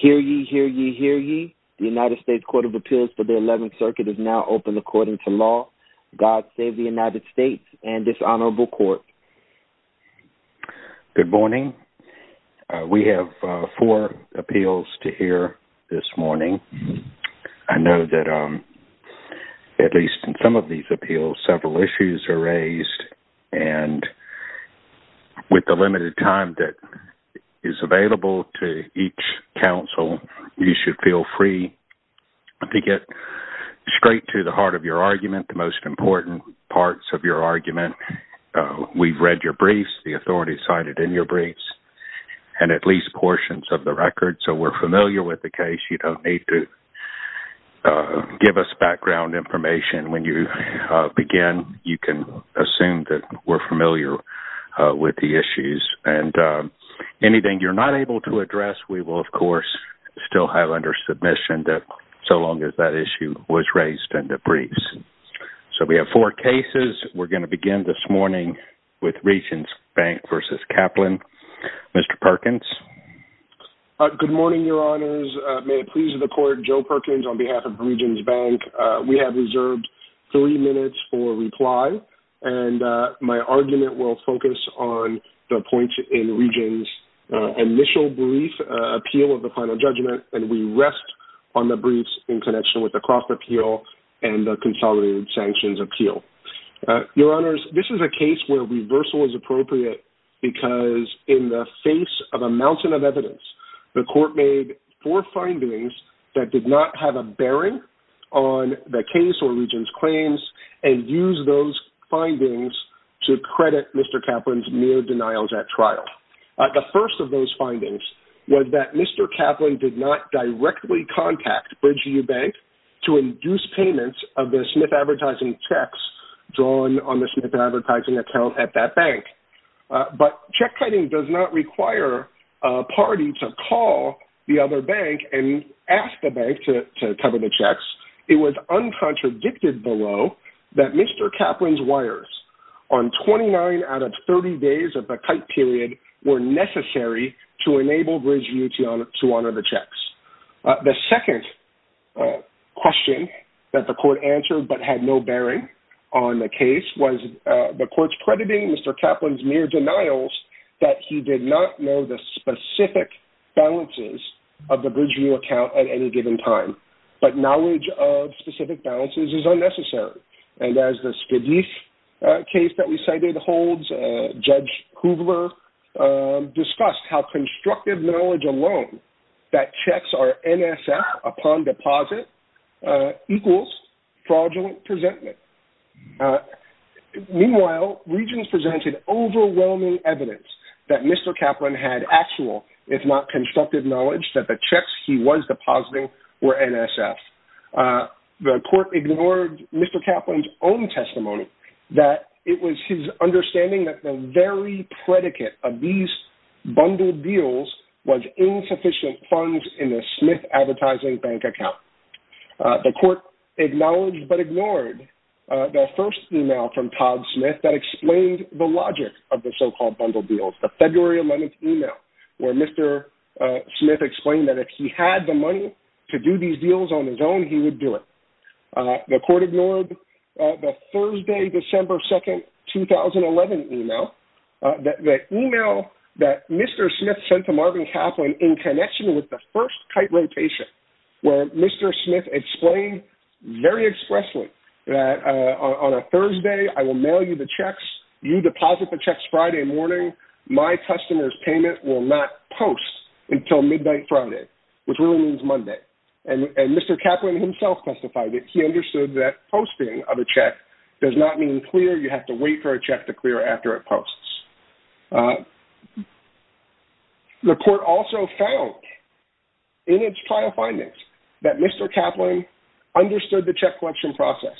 Hear ye, hear ye, hear ye. The United States Court of Appeals for the 11th Circuit is now open according to law. God save the United States and this honorable court. Good morning. We have four appeals to hear this morning. I know that at least in some of these appeals several issues are raised and with the counsel you should feel free to get straight to the heart of your argument, the most important parts of your argument. We've read your briefs, the authorities cited in your briefs, and at least portions of the record so we're familiar with the case. You don't need to give us background information when you begin. You can assume that we're familiar with the issues and anything you're not able to address we will of course still have under submission that so long as that issue was raised in the briefs. So we have four cases. We're going to begin this morning with Regions Bank v. Kaplan. Mr. Perkins. Good morning, Your Honors. May it please the court, Joe Perkins on behalf of Regions Bank. We have reserved three minutes for reply and my argument will focus on the points in Regions initial brief appeal of the final judgment and we rest on the briefs in connection with the Croft Appeal and the consolidated sanctions appeal. Your Honors, this is a case where reversal is appropriate because in the face of a mountain of evidence the court made four findings that did not have a bearing on the case or Regions claims and use those findings to credit Mr. Kaplan's mere denials at trial. The first of those findings was that Mr. Kaplan did not directly contact Bridgeview Bank to induce payments of the Smith advertising checks drawn on the Smith advertising account at that bank. But check cutting does not require a party to call the other bank and ask the bank to cover the checks. It was uncontradicted below that Mr. Kaplan's on 29 out of 30 days of the kite period were necessary to enable Bridgeview to honor the checks. The second question that the court answered but had no bearing on the case was the court's crediting Mr. Kaplan's mere denials that he did not know the specific balances of the Bridgeview account at any given time. But knowledge of specific balances is unnecessary and as the Spidey's case that we cited holds Judge Kugler discussed how constructive knowledge alone that checks are NSF upon deposit equals fraudulent presentment. Meanwhile Regions presented overwhelming evidence that Mr. Kaplan had actual if not constructive knowledge that the checks he was depositing were NSF. The court ignored Mr. Kaplan's own testimony that it was his understanding that the very predicate of these bundled deals was insufficient funds in the Smith advertising bank account. The court acknowledged but ignored the first email from Todd Smith that explained the logic of the so-called bundle deals. The Smith explained that if he had the money to do these deals on his own he would do it. The court ignored the Thursday December 2nd 2011 email that email that Mr. Smith sent to Marvin Kaplan in connection with the first kite rotation where Mr. Smith explained very expressly that on a Thursday I will mail you the checks you deposit the checks Friday morning my customers payment will not post until midnight Friday which really means Monday and Mr. Kaplan himself testified that he understood that posting of a check does not mean clear you have to wait for a check to clear after it posts. The court also found in its trial findings that Mr. Kaplan understood the check collection process.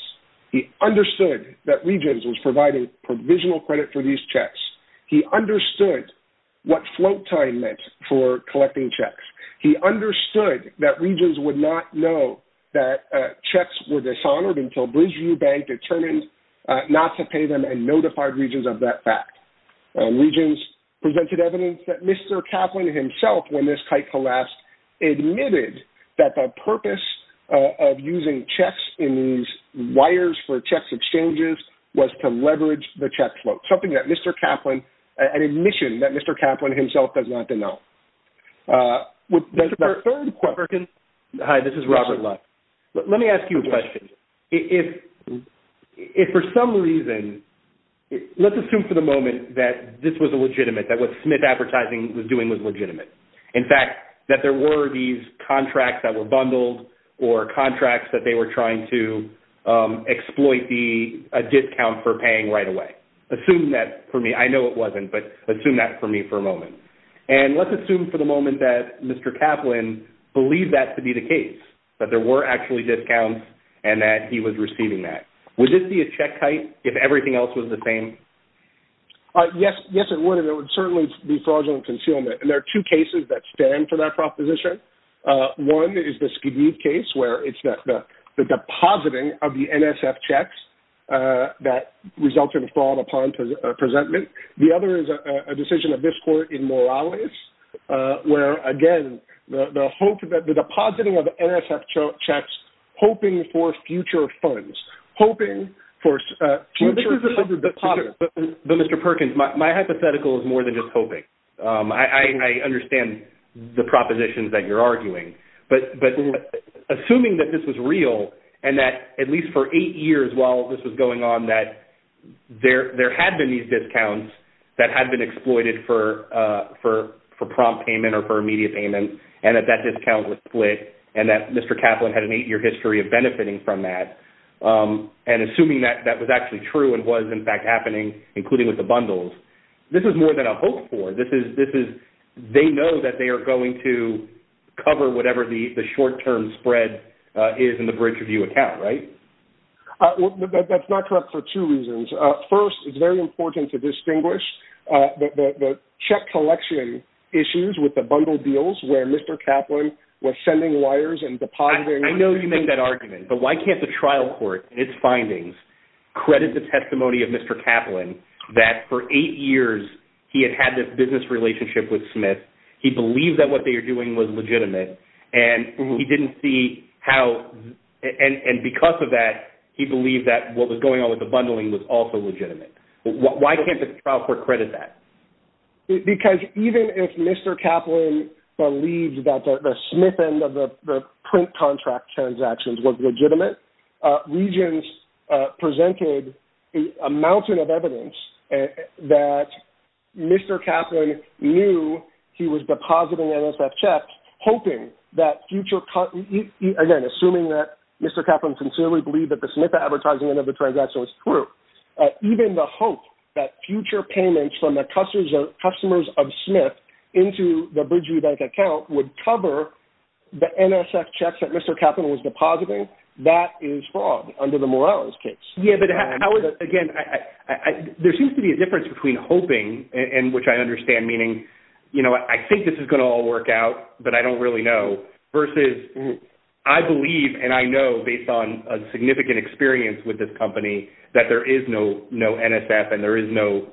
He understood that Regions was providing provisional credit for these He understood what float time meant for collecting checks. He understood that Regions would not know that checks were dishonored until Bridgeview Bank determined not to pay them and notified Regions of that fact. Regions presented evidence that Mr. Kaplan himself when this kite collapsed admitted that the purpose of using checks in these wires for checks exchanges was to leverage the admission that Mr. Kaplan himself does not to know. Hi this is Robert Lutz. Let me ask you a question. If for some reason let's assume for the moment that this was a legitimate that what Smith Advertising was doing was legitimate in fact that there were these contracts that were bundled or contracts that they were trying to exploit the discount for I know it wasn't but assume that for me for a moment and let's assume for the moment that Mr. Kaplan believed that to be the case that there were actually discounts and that he was receiving that. Would this be a check kite if everything else was the same? Yes yes it would it would certainly be fraudulent concealment and there are two cases that stand for that proposition. One is the Skidoo case where it's not the depositing of the NSF checks that resulted in fraud upon presentment. The other is a decision of this court in Morales where again the hope that the depositing of NSF checks hoping for future funds hoping for Mr. Perkins my hypothetical is more than just hoping. I understand the propositions that you're arguing but but assuming that this was real and that at least for eight years while this was going on that there there had been these discounts that had been exploited for for for prompt payment or for immediate payment and that that discount was split and that Mr. Kaplan had an eight-year history of benefiting from that and assuming that that was actually true and was in fact happening including with the bundles this is more than a hope for this is this is they know that they are going to cover whatever the short-term spread is in the Bridge Review account right? That's not correct for two reasons. First it's very important to distinguish the check collection issues with the bundle deals where Mr. Kaplan was sending wires and depositing. I know you make that argument but why can't the trial court and its findings credit the testimony of Mr. Kaplan that for eight years he had had this business relationship with Smith he believed that what they are doing was legitimate and he didn't see how and because of that he believed that what was going on with the bundling was also legitimate. Why can't the trial court credit that? Because even if Mr. Kaplan believed that the Smith end of the print contract transactions was legitimate Regents presented a mountain of evidence that Mr. Kaplan knew he was depositing NSF checks hoping that future again assuming that Mr. Kaplan sincerely believed that the Smith advertising end of the transaction was true even the hope that future payments from the customers of Smith into the Bridge Review Bank account would cover the NSF checks that Mr. Kaplan was depositing that is wrong under the Morales case. Yeah but again there seems to be a difference between hoping and which I understand meaning you know I think this is going to all work out but I don't really know versus I believe and I know based on a significant experience with this company that there is no NSF and there is no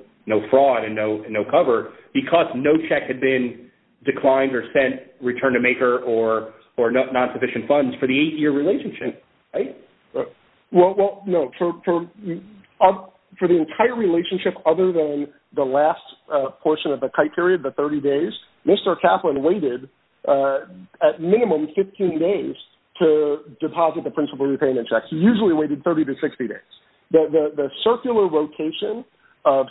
fraud and no cover because no check had been declined or sent return to maker or not sufficient funds for the eight-year relationship. Well no for the entire relationship other than the last portion of the kite period the 30 days Mr. Kaplan waited at minimum 15 days to deposit the principal repayment checks usually waited 30 to 60 days. The circular rotation of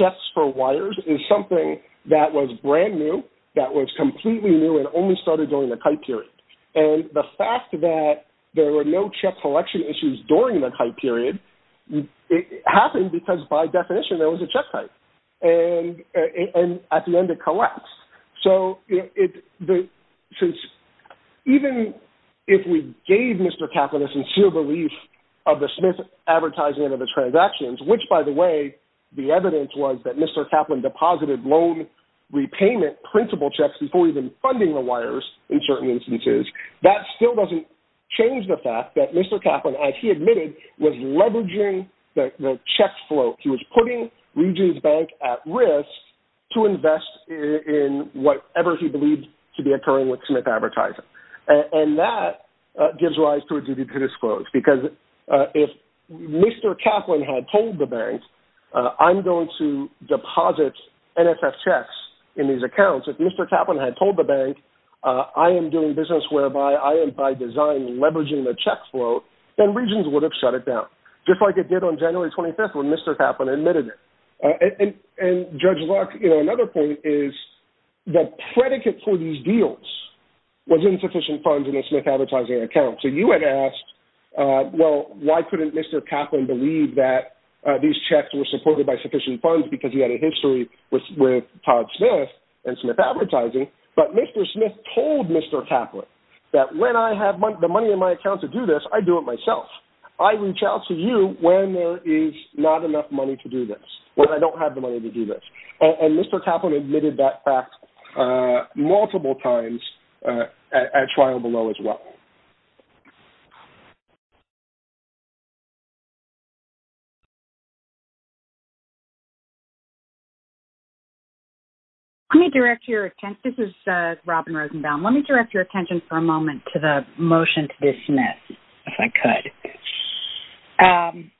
checks for wires is something that was brand new that was completely new and only started during the kite period and the fact that there were no check collection issues during the kite period it happened because by definition there was a check kite and at the end it collapsed. So even if we gave Mr. Kaplan a sincere belief of the Smith advertising of the transactions which by the way the evidence was that Mr. Kaplan deposited loan repayment principal checks before even funding the certain instances that still doesn't change the fact that Mr. Kaplan as he admitted was leveraging the check float he was putting Regions Bank at risk to invest in whatever he believed to be occurring with Smith advertising and that gives rise to a duty to disclose because if Mr. Kaplan had told the bank I'm going to deposit NSF checks in these accounts if Mr. Kaplan had told the bank I am doing business whereby I am by design leveraging the check float then Regions would have shut it down just like it did on January 25th when Mr. Kaplan admitted it. And Judge Luck you know another point is the predicate for these deals was insufficient funds in a Smith advertising account so you had asked well why couldn't Mr. Kaplan believe that these checks were supported by sufficient funds because he had a history with Todd Smith and Smith advertising but Mr. Smith told Mr. Kaplan that when I have the money in my account to do this I do it myself I reach out to you when there is not enough money to do this when I don't have the money to do this and Mr. Kaplan admitted that fact multiple times at trial below as well. Let me direct your attention, this is Robin Rosenbaum, let me direct your attention for a moment to the motion to dismiss if I could.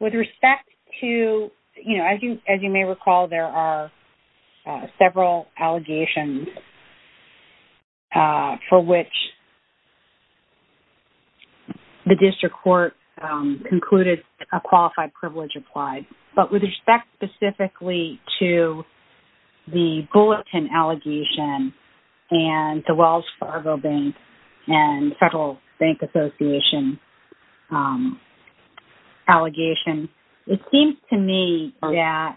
With respect to you know as you as you may recall there are several allegations for which the district court concluded a qualified privilege applied but with respect specifically to the Bulletin allegation and the Wells Fargo Bank and Federal Bank Association allegation it seems to me yeah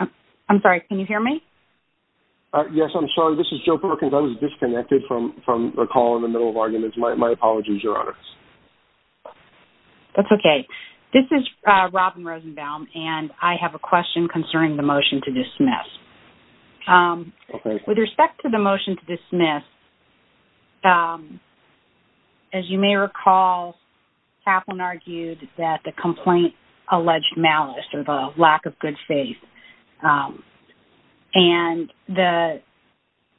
I'm sorry can you hear me? Yes I'm sorry this is Joe Perkins I was disconnected from from a call in the middle of arguments my apologies your honor. That's okay this is Robin Rosenbaum and I have a question concerning the motion to dismiss. With respect to the as you may recall Kaplan argued that the complaint alleged malice or the lack of good faith and the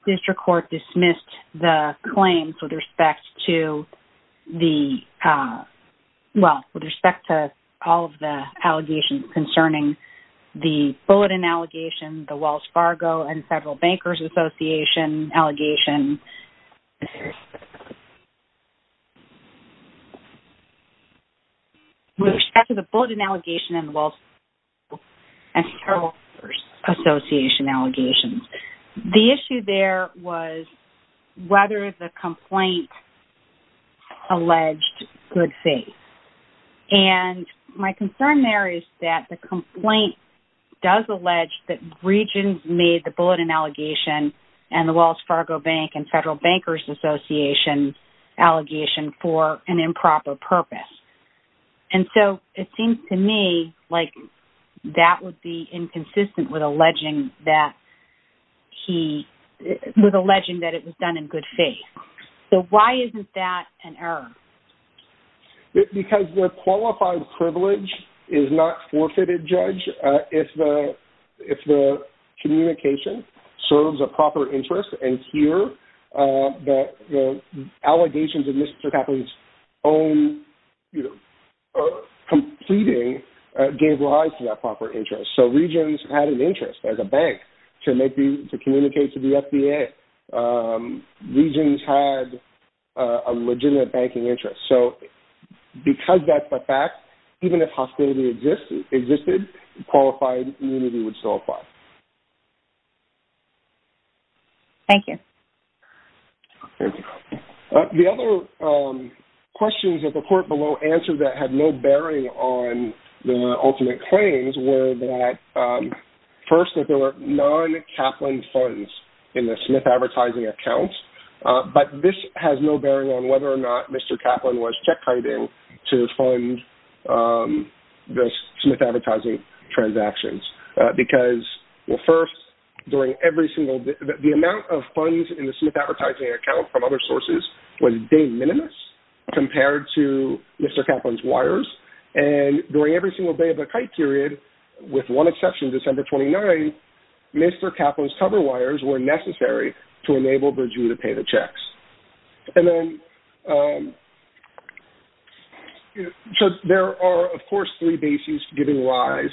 district court dismissed the claims with respect to the well with respect to all of the allegations concerning the Bulletin allegation the Wells Fargo and Federal Bankers Association allegation with respect to the Bulletin allegation and the Wells Fargo and Federal Bankers Association allegations the issue there was whether the complaint alleged good faith and my that regions made the Bulletin allegation and the Wells Fargo Bank and Federal Bankers Association allegation for an improper purpose and so it seems to me like that would be inconsistent with alleging that he was alleging that it was done in good faith so why isn't that an error? Because the qualified privilege is not forfeited judge if the if the communication serves a proper interest and here the allegations of Mr. Kaplan's own you know completing gave rise to that proper interest so regions had an interest as a bank to make the to communicate to the FDA regions had a legitimate banking interest so because that's the fact even if hostility existed qualified immunity would still apply. Thank you. The other questions that the court below answered that had no bearing on the ultimate claims were that first that there were non-Kaplan funds in the Smith advertising accounts but this has no Kaplan was check-kiting to fund the Smith advertising transactions because well first during every single the amount of funds in the Smith advertising account from other sources was de minimis compared to Mr. Kaplan's wires and during every single day of the kite period with one exception December 29 Mr. Kaplan's cover wires were necessary to enable Virginia to pay the So there are of course three bases giving rise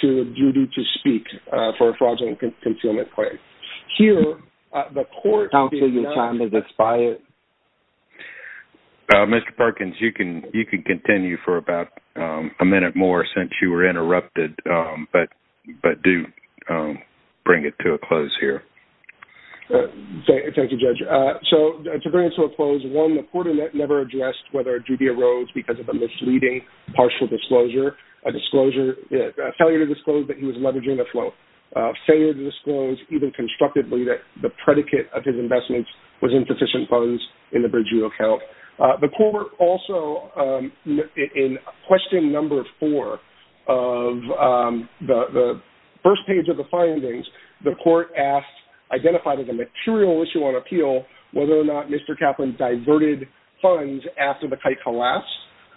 to a duty to speak for a fraudulent concealment claim. Here the court... Mr. Parkins you can you can continue for about a minute more since you were interrupted but but do bring it to a close here. Thank you judge. So to bring it to a close one the whether a duty arose because of a misleading partial disclosure a disclosure failure to disclose that he was leveraging the flow failure to disclose even constructively that the predicate of his investments was insufficient funds in the bridging account. The court also in question number four of the first page of the findings the court asked identified as a the kite collapse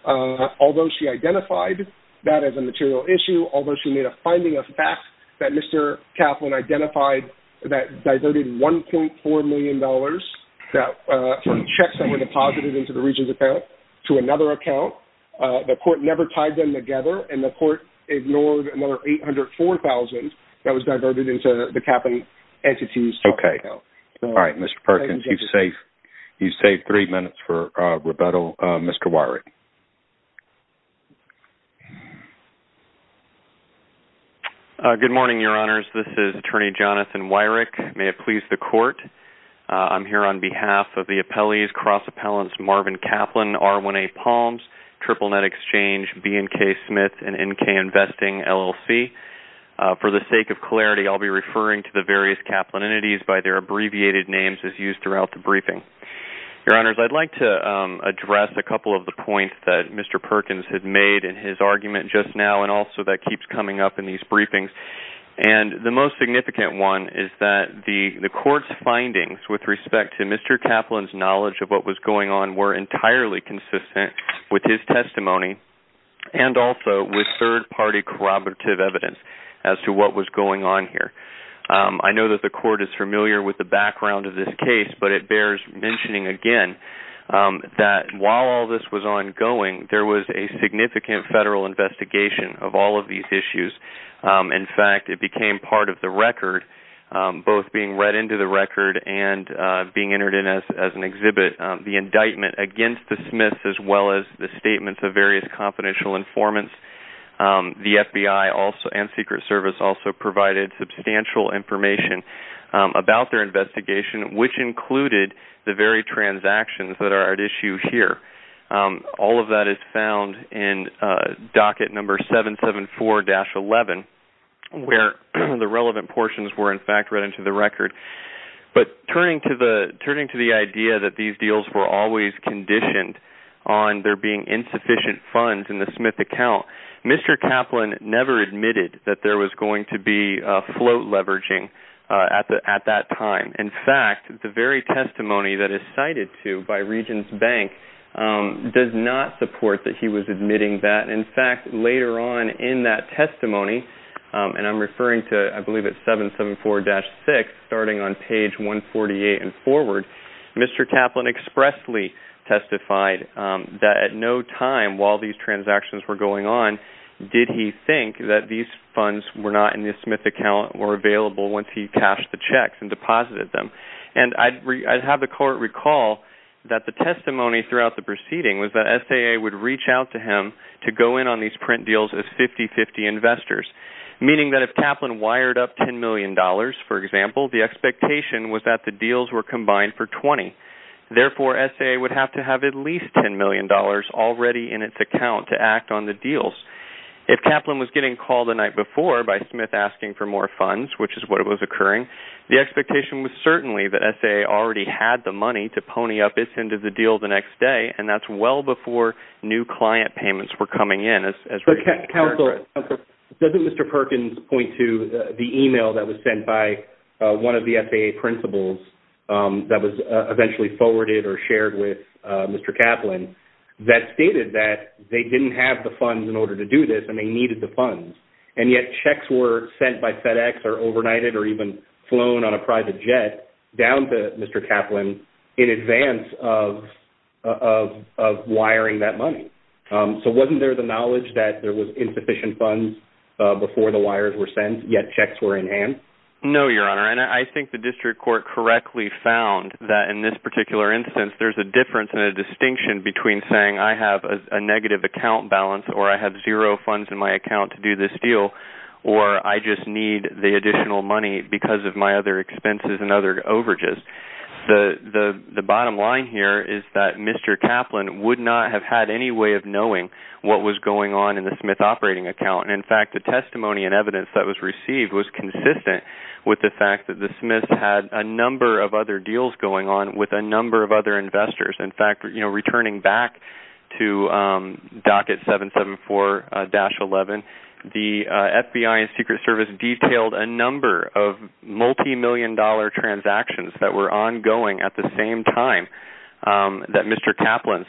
although she identified that as a material issue although she made a finding of facts that Mr. Kaplan identified that diverted 1.4 million dollars that from checks that were deposited into the region's account to another account. The court never tied them together and the court ignored another eight hundred four thousand that was diverted into the Kaplan entity's account. Okay all right Mr. Parkins you've saved you Mr. Weyrich. Good morning your honors this is attorney Jonathan Weyrich. May it please the court I'm here on behalf of the appellees cross appellants Marvin Kaplan, R1A Palms, Triple Net Exchange, BNK Smith and NK Investing LLC. For the sake of clarity I'll be referring to the various Kaplan entities by their abbreviated names as used throughout the briefing. Your honors I'd like to address a couple of the points that Mr. Perkins had made in his argument just now and also that keeps coming up in these briefings and the most significant one is that the the court's findings with respect to Mr. Kaplan's knowledge of what was going on were entirely consistent with his testimony and also with third-party corroborative evidence as to what was going on here. I know that the court is familiar with the background of this case but it bears mentioning again that while all this was ongoing there was a significant federal investigation of all of these issues. In fact it became part of the record both being read into the record and being entered in as an exhibit the indictment against the Smiths as well as the statements of various confidential informants. The FBI also and Secret Service also provided substantial information about their investigation which included the very transactions that are at issue here. All of that is found in docket number 774-11 where the relevant portions were in fact read into the record but turning to the turning to the idea that these deals were always conditioned on there being insufficient funds in the Smith account Mr. Kaplan never admitted that there was going to be a float leveraging at that time. In fact the very testimony that is cited to by Regions Bank does not support that he was admitting that. In fact later on in that testimony and I'm referring to I believe it's 774-6 starting on page 148 and forward Mr. Kaplan expressly testified that at no time while these transactions were going on did he think that these funds were not in the Smith account were available once he cashed the checks and deposited them and I'd have the court recall that the testimony throughout the proceeding was that SAA would reach out to him to go in on these print deals as 50-50 investors meaning that if Kaplan wired up ten million dollars for example the expectation was that the deals were combined for twenty therefore SAA would have to have at least ten million dollars already in its account to act on the deals. If Kaplan was getting called the night before by Smith asking for more funds which is what was occurring the expectation was certainly that SAA already had the money to pony up its end of the deal the next day and that's well before new client payments were coming in. Counselor, doesn't Mr. Perkins point to the email that was sent by one of the SAA principals that was eventually forwarded or shared with Mr. Kaplan that stated that they didn't have the funds in order to do this and they needed the funds and yet checks were sent by FedEx or overnighted or even flown on a private jet down to Mr. Kaplan in advance of wiring that money. So wasn't there the knowledge that there was insufficient funds before the wires were sent yet checks were in hand? No your honor and I think the district court correctly found that in this particular instance there's a difference in a distinction between saying I have a negative account balance or I have zero funds in my account to do this deal or I just need the additional money because of my other expenses and other overages. The bottom line here is that Mr. Kaplan would not have had any way of knowing what was going on in the Smith operating account. In fact the testimony and evidence that was received was consistent with the fact that the Smith had a number of other deals going on with a number of other investors. In fact returning back to docket 774-11 the FBI and Secret Service detailed a number of multi-million dollar transactions that were ongoing at the same time that Mr. Kaplan's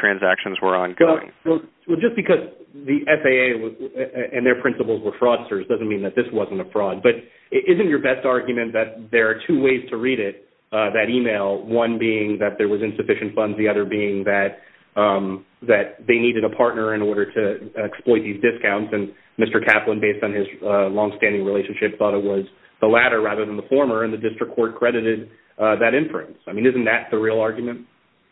transactions were ongoing. Well just because the FAA and their principals were fraudsters doesn't mean that this wasn't a fraud but isn't your best argument that there are two ways to read it that email one being that there was insufficient funds the other being that that they needed a partner in order to exploit these discounts and Mr. Kaplan based on his long-standing relationship thought it was the latter rather than the former and the district court credited that inference. I mean isn't that the real argument?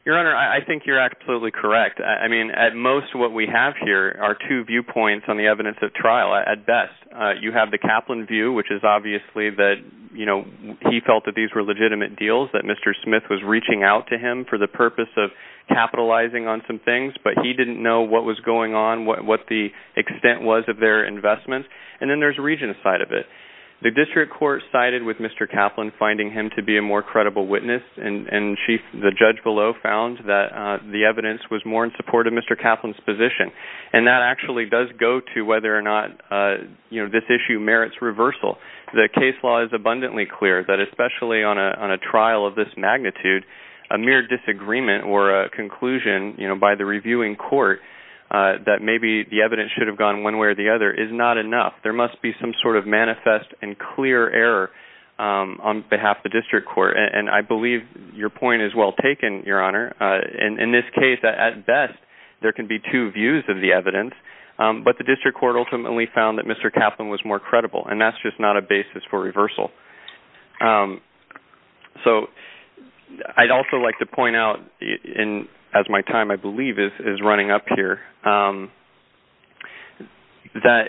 Your honor I think you're absolutely correct. I mean at most what we have here are two viewpoints on the evidence of trial. At best you have the Kaplan view which is obviously that you know he felt that these were legitimate deals that Mr. Smith was reaching out to him for the purpose of capitalizing on some things but he didn't know what was going on what what the extent was of their investments and then there's a region side of it. The district court sided with Mr. Kaplan finding him to be a more credible witness and and she the judge below found that the evidence was more in support of Mr. Kaplan's position and that actually does go to whether or not you know this issue merits reversal. The mere disagreement or a conclusion you know by the reviewing court that maybe the evidence should have gone one way or the other is not enough. There must be some sort of manifest and clear error on behalf of the district court and I believe your point is well taken your honor. In this case at best there can be two views of the evidence but the district court ultimately found that Mr. basis for reversal. So I'd also like to point out in as my time I believe is running up here that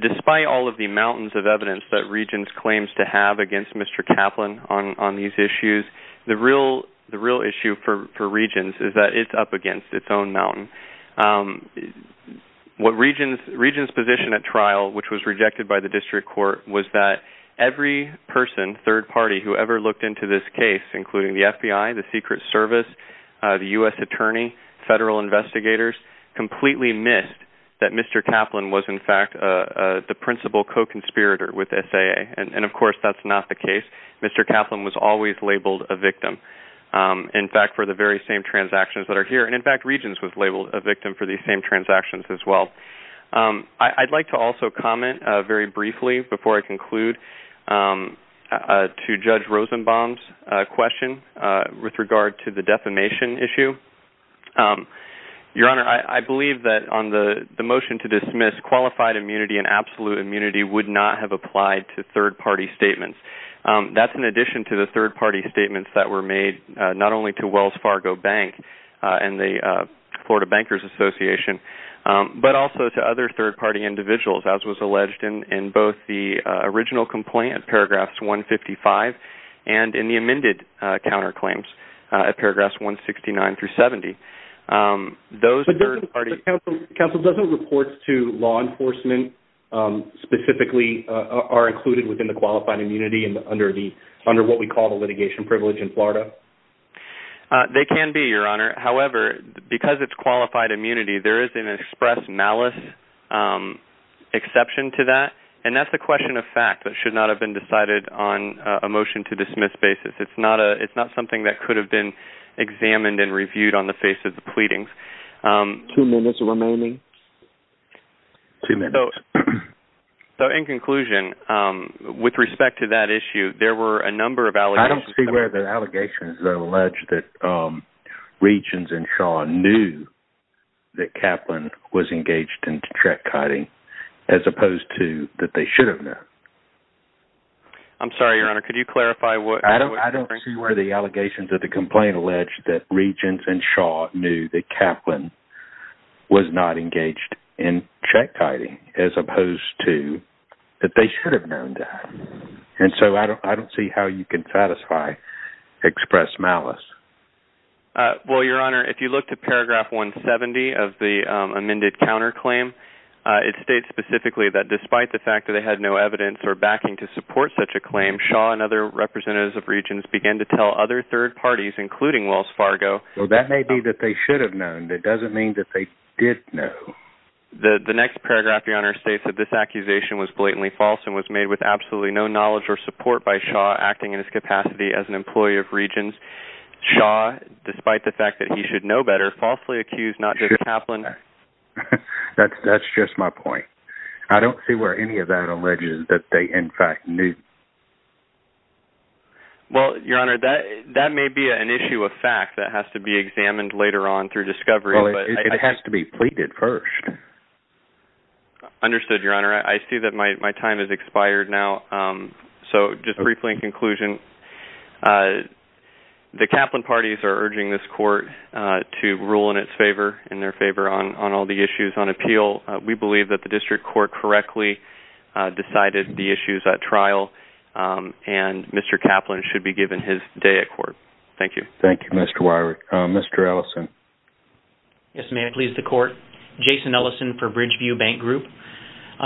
despite all of the mountains of evidence that regions claims to have against Mr. Kaplan on on these issues the real the real issue for for regions is that it's up against its own mountain. What regions regions position at trial which was rejected by the district court was that every person third party who ever looked into this case including the FBI, the Secret Service, the US Attorney, federal investigators completely missed that Mr. Kaplan was in fact the principal co-conspirator with SAA and and of course that's not the case. Mr. Kaplan was always labeled a victim in fact for the very same transactions that are here and in fact regions was labeled a victim for the same transactions as well. I'd like to also comment very briefly before I conclude to judge Rosenbaum's question with regard to the defamation issue. Your honor I believe that on the the motion to dismiss qualified immunity and absolute immunity would not have applied to third-party statements. That's in addition to the third-party statements that were made not only to Wells Fargo Bank and the Florida Bankers Association but also to other third-party individuals as was alleged in in both the original complaint paragraphs 155 and in the amended counterclaims at paragraphs 169 through 70. Those third party... Counsel doesn't reports to law enforcement specifically are included within the qualified immunity and under the under what we call the litigation privilege in Florida? They can be your honor however because it's qualified immunity there is an express malice exception to that and that's the question of fact that should not have been decided on a motion to dismiss basis. It's not a it's not something that could have been examined and reviewed on the face of the pleadings. Two minutes remaining. So in conclusion with respect to that issue there were a number of allegations... I don't see where the allegations that alleged that Regents and Shaw knew that Kaplan was engaged in check kiting as opposed to that they should have known. I'm sorry your honor could you clarify what... I don't see where the allegations of the complaint alleged that Regents and Shaw knew that Kaplan was not engaged in check kiting as opposed to that they should have known that and so I don't I don't see how you can satisfy express malice. Well your honor if you look to paragraph 170 of the amended counterclaim it states specifically that despite the fact that they had no evidence or backing to support such a claim Shaw and other representatives of Regents began to tell other third parties including Wells Fargo... Well that may be that they should have known that doesn't mean that they did know. The next paragraph your honor states that this accusation was blatantly false and was made with absolutely no knowledge or support by Shaw acting in his capacity as an employee of Regents. Shaw despite the fact that he should know better falsely accused not just Kaplan. That's just my point. I don't see where any of that alleges that they in fact knew. Well your honor that that may be an issue of fact that has to be examined later on through discovery. It has to be pleaded first. Understood your honor I see that my time has expired now so just briefly in conclusion the Kaplan parties are urging this court to rule in its favor in their favor on on all the issues on appeal. We believe that the district court correctly decided the issues at trial and Mr. Kaplan should be pleased the court. Jason Ellison for Bridgeview Bank Group.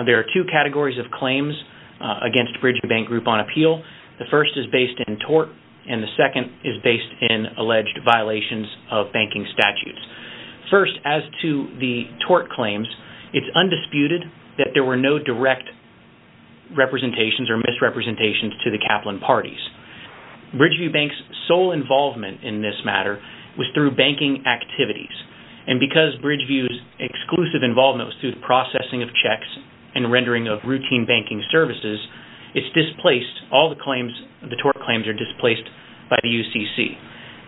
There are two categories of claims against Bridgeview Bank Group on appeal. The first is based in tort and the second is based in alleged violations of banking statutes. First as to the tort claims it's undisputed that there were no direct representations or misrepresentations to the Kaplan parties. Bridgeview Bank's sole involvement in this matter was through banking activities and because Bridgeview's exclusive involvement was through the processing of checks and rendering of routine banking services it's displaced all the claims the tort claims are displaced by the UCC.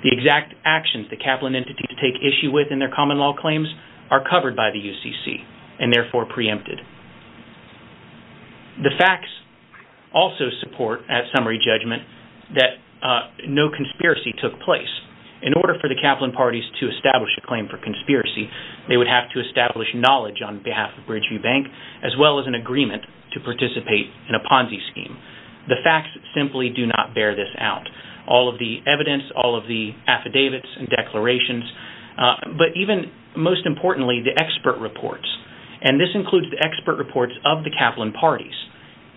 The exact actions the Kaplan entity to take issue with in their common law claims are covered by the UCC and therefore preempted. The conspiracy took place. In order for the Kaplan parties to establish a claim for conspiracy they would have to establish knowledge on behalf of Bridgeview Bank as well as an agreement to participate in a Ponzi scheme. The facts simply do not bear this out. All of the evidence all of the affidavits and declarations but even most importantly the expert reports and this includes the expert reports of the Kaplan parties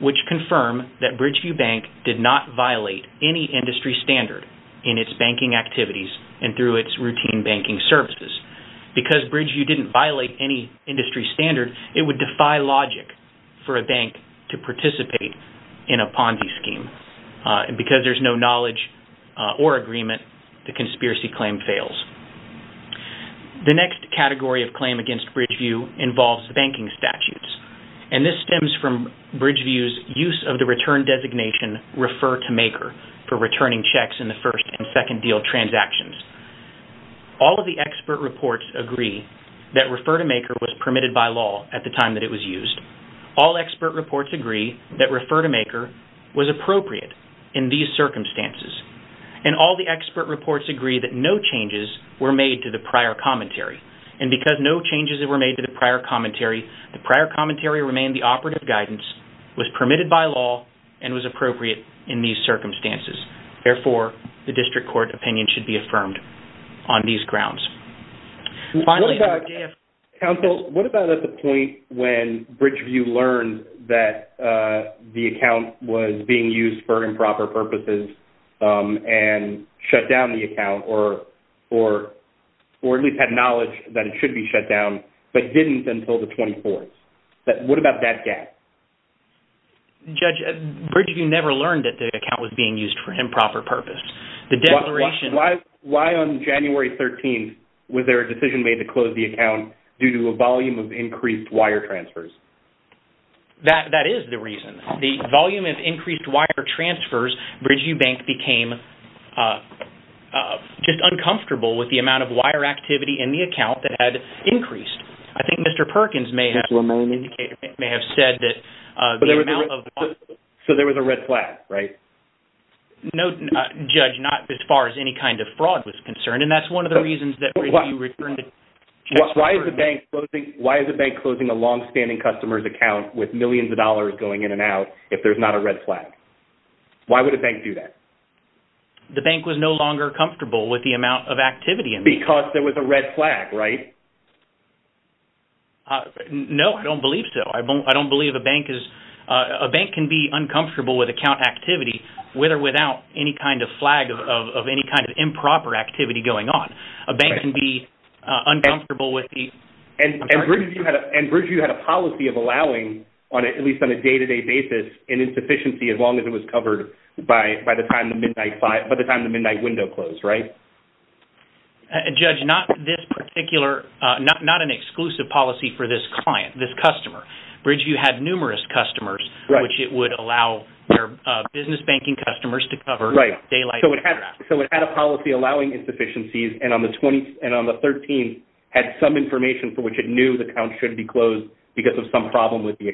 which confirm that Bridgeview Bank did not violate any industry standard in its banking activities and through its routine banking services. Because Bridgeview didn't violate any industry standard it would defy logic for a bank to participate in a Ponzi scheme and because there's no knowledge or agreement the conspiracy claim fails. The next category of claim against Bridgeview involves the banking statutes and this stems from Bridgeview's use of the return designation refer to maker for returning checks in the first and second deal transactions. All of the expert reports agree that refer to maker was permitted by law at the time that it was used. All expert reports agree that refer to maker was appropriate in these circumstances and all the expert reports agree that no changes were made to the prior commentary and because no changes were made to the prior commentary the prior commentary remained the operative guidance was permitted by law and was therefore the district court opinion should be affirmed on these grounds. What about at the point when Bridgeview learned that the account was being used for improper purposes and shut down the account or at least had knowledge that it should be shut down but didn't until the 24th. What Why on January 13th was there a decision made to close the account due to a volume of increased wire transfers? That is the reason. The volume of increased wire transfers Bridgeview Bank became just uncomfortable with the amount of wire activity in the account that had increased. I think Mr. Perkins may have said that. So there was a red flag right? No judge not as far as any kind of fraud was concerned and that's one of the reasons that. Why is the bank closing a long-standing customers account with millions of dollars going in and out if there's not a red flag? Why would a bank do that? The bank was no longer comfortable with the amount of activity. Because there was a red flag right? No I don't believe so. I don't believe a bank is a bank can be uncomfortable with account activity with or without any kind of flag of any kind of improper activity going on. A bank can be uncomfortable with these. And Bridgeview had a policy of allowing on at least on a day-to-day basis an insufficiency as long as it was covered by by the time the midnight window closed right? Judge not this particular not an exclusive policy for this client this customer. Bridgeview had numerous customers which it would allow their business banking customers to cover daylight. So it had a policy allowing insufficiencies and on the 20th and on the 13th had some information for which it knew the account should be closed because of some problem with the judge.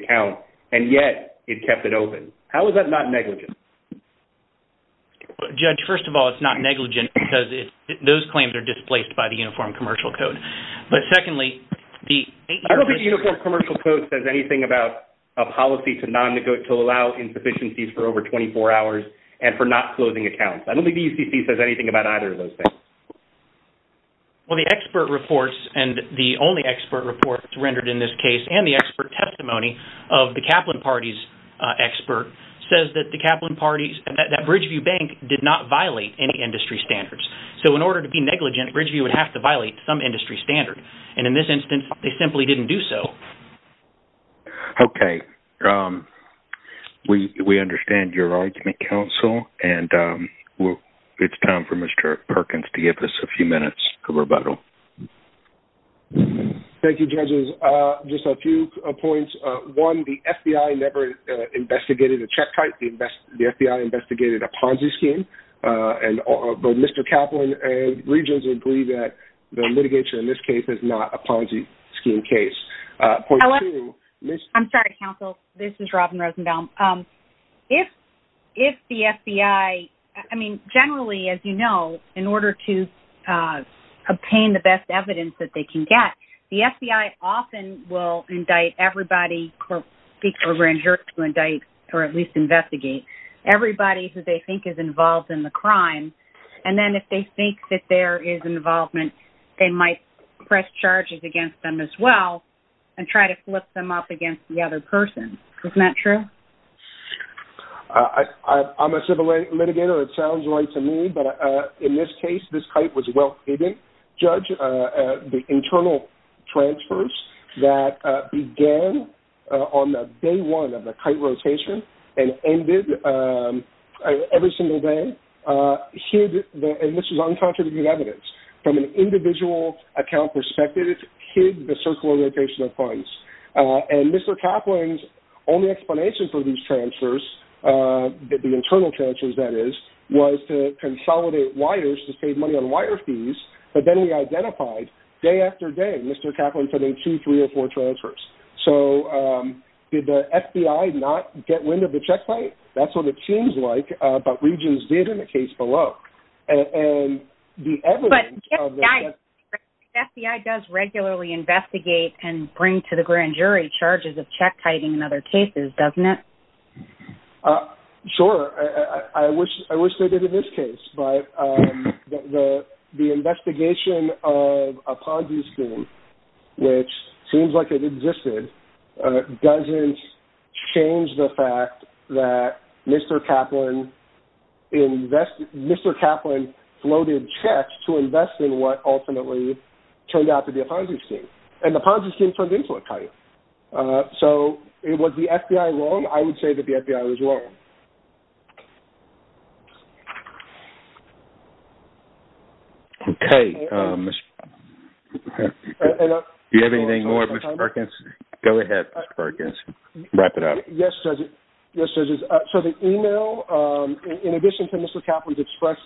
First of all it's not negligent because it those claims are displaced by the Uniform Commercial Code. But secondly the Uniform Commercial Code says anything about a policy to allow insufficiencies for over 24 hours and for not closing accounts. I don't think the UCC says anything about either of those things. Well the expert reports and the only expert report rendered in this case and the expert testimony of the Kaplan Party's expert says that the Kaplan Party's that Bridgeview Bank did not violate any industry standards. So in order to be negligent Bridgeview would have to violate some industry standard and in this instance they simply didn't do so. Okay we understand your argument counsel and well it's time for Mr. Perkins to give us a few minutes of rebuttal. Thank you judges just a few points. One the FBI never investigated a check type. The FBI investigated a Ponzi scheme and both Mr. Kaplan and Regents agree that the litigation in this case is not a Ponzi scheme case. I'm sorry counsel this is Robin Rosenbaum. If the FBI I mean generally as you know in order to obtain the best evidence that they can get the to indict or at least investigate everybody who they think is involved in the crime and then if they think that there is involvement they might press charges against them as well and try to flip them up against the other person. Isn't that true? I'm a civil litigator it sounds right to me but in this case this transfers that began on the day one of the kite rotation and ended every single day here and this is uncontributed evidence from an individual account perspective it hid the circular rotation of funds and Mr. Kaplan's only explanation for these transfers that the internal transfers that is was to consolidate wires to save money on wire fees but then we identified day after day Mr. Kaplan putting two three or four transfers so did the FBI not get wind of the check plate that's what it seems like but Regents did in the case below and FBI does regularly investigate and bring to the grand jury charges of check kiting in other cases doesn't it? Sure I wish I wish they did in this case but the investigation of a Ponzi scheme which seems like it existed doesn't change the fact that Mr. Kaplan invested Mr. Kaplan floated checks to invest in what ultimately turned out to be a Ponzi scheme and the Ponzi scheme turned into a Ponzi scheme. Okay. Do you have anything more Mr. Perkins? Go ahead Mr. Perkins. Wrap it up. Yes Judges. So the email in addition to Mr. Kaplan's express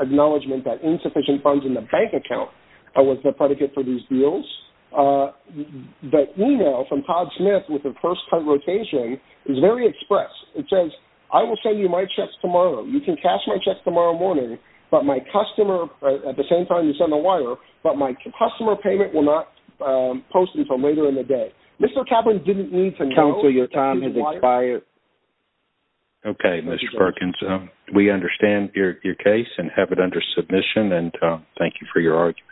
acknowledgment that insufficient funds in the bank account was the predicate for these deals the email from Todd Smith with the first kite rotation is very express it says I will send you my checks tomorrow you can cash my checks tomorrow morning but my customer at the same time you send the wire but my customer payment will not post until later in the day. Mr. Kaplan didn't need to know. Counsel your time has expired. Okay Mr. Perkins we understand your case and have it under submission and thank you for your argument.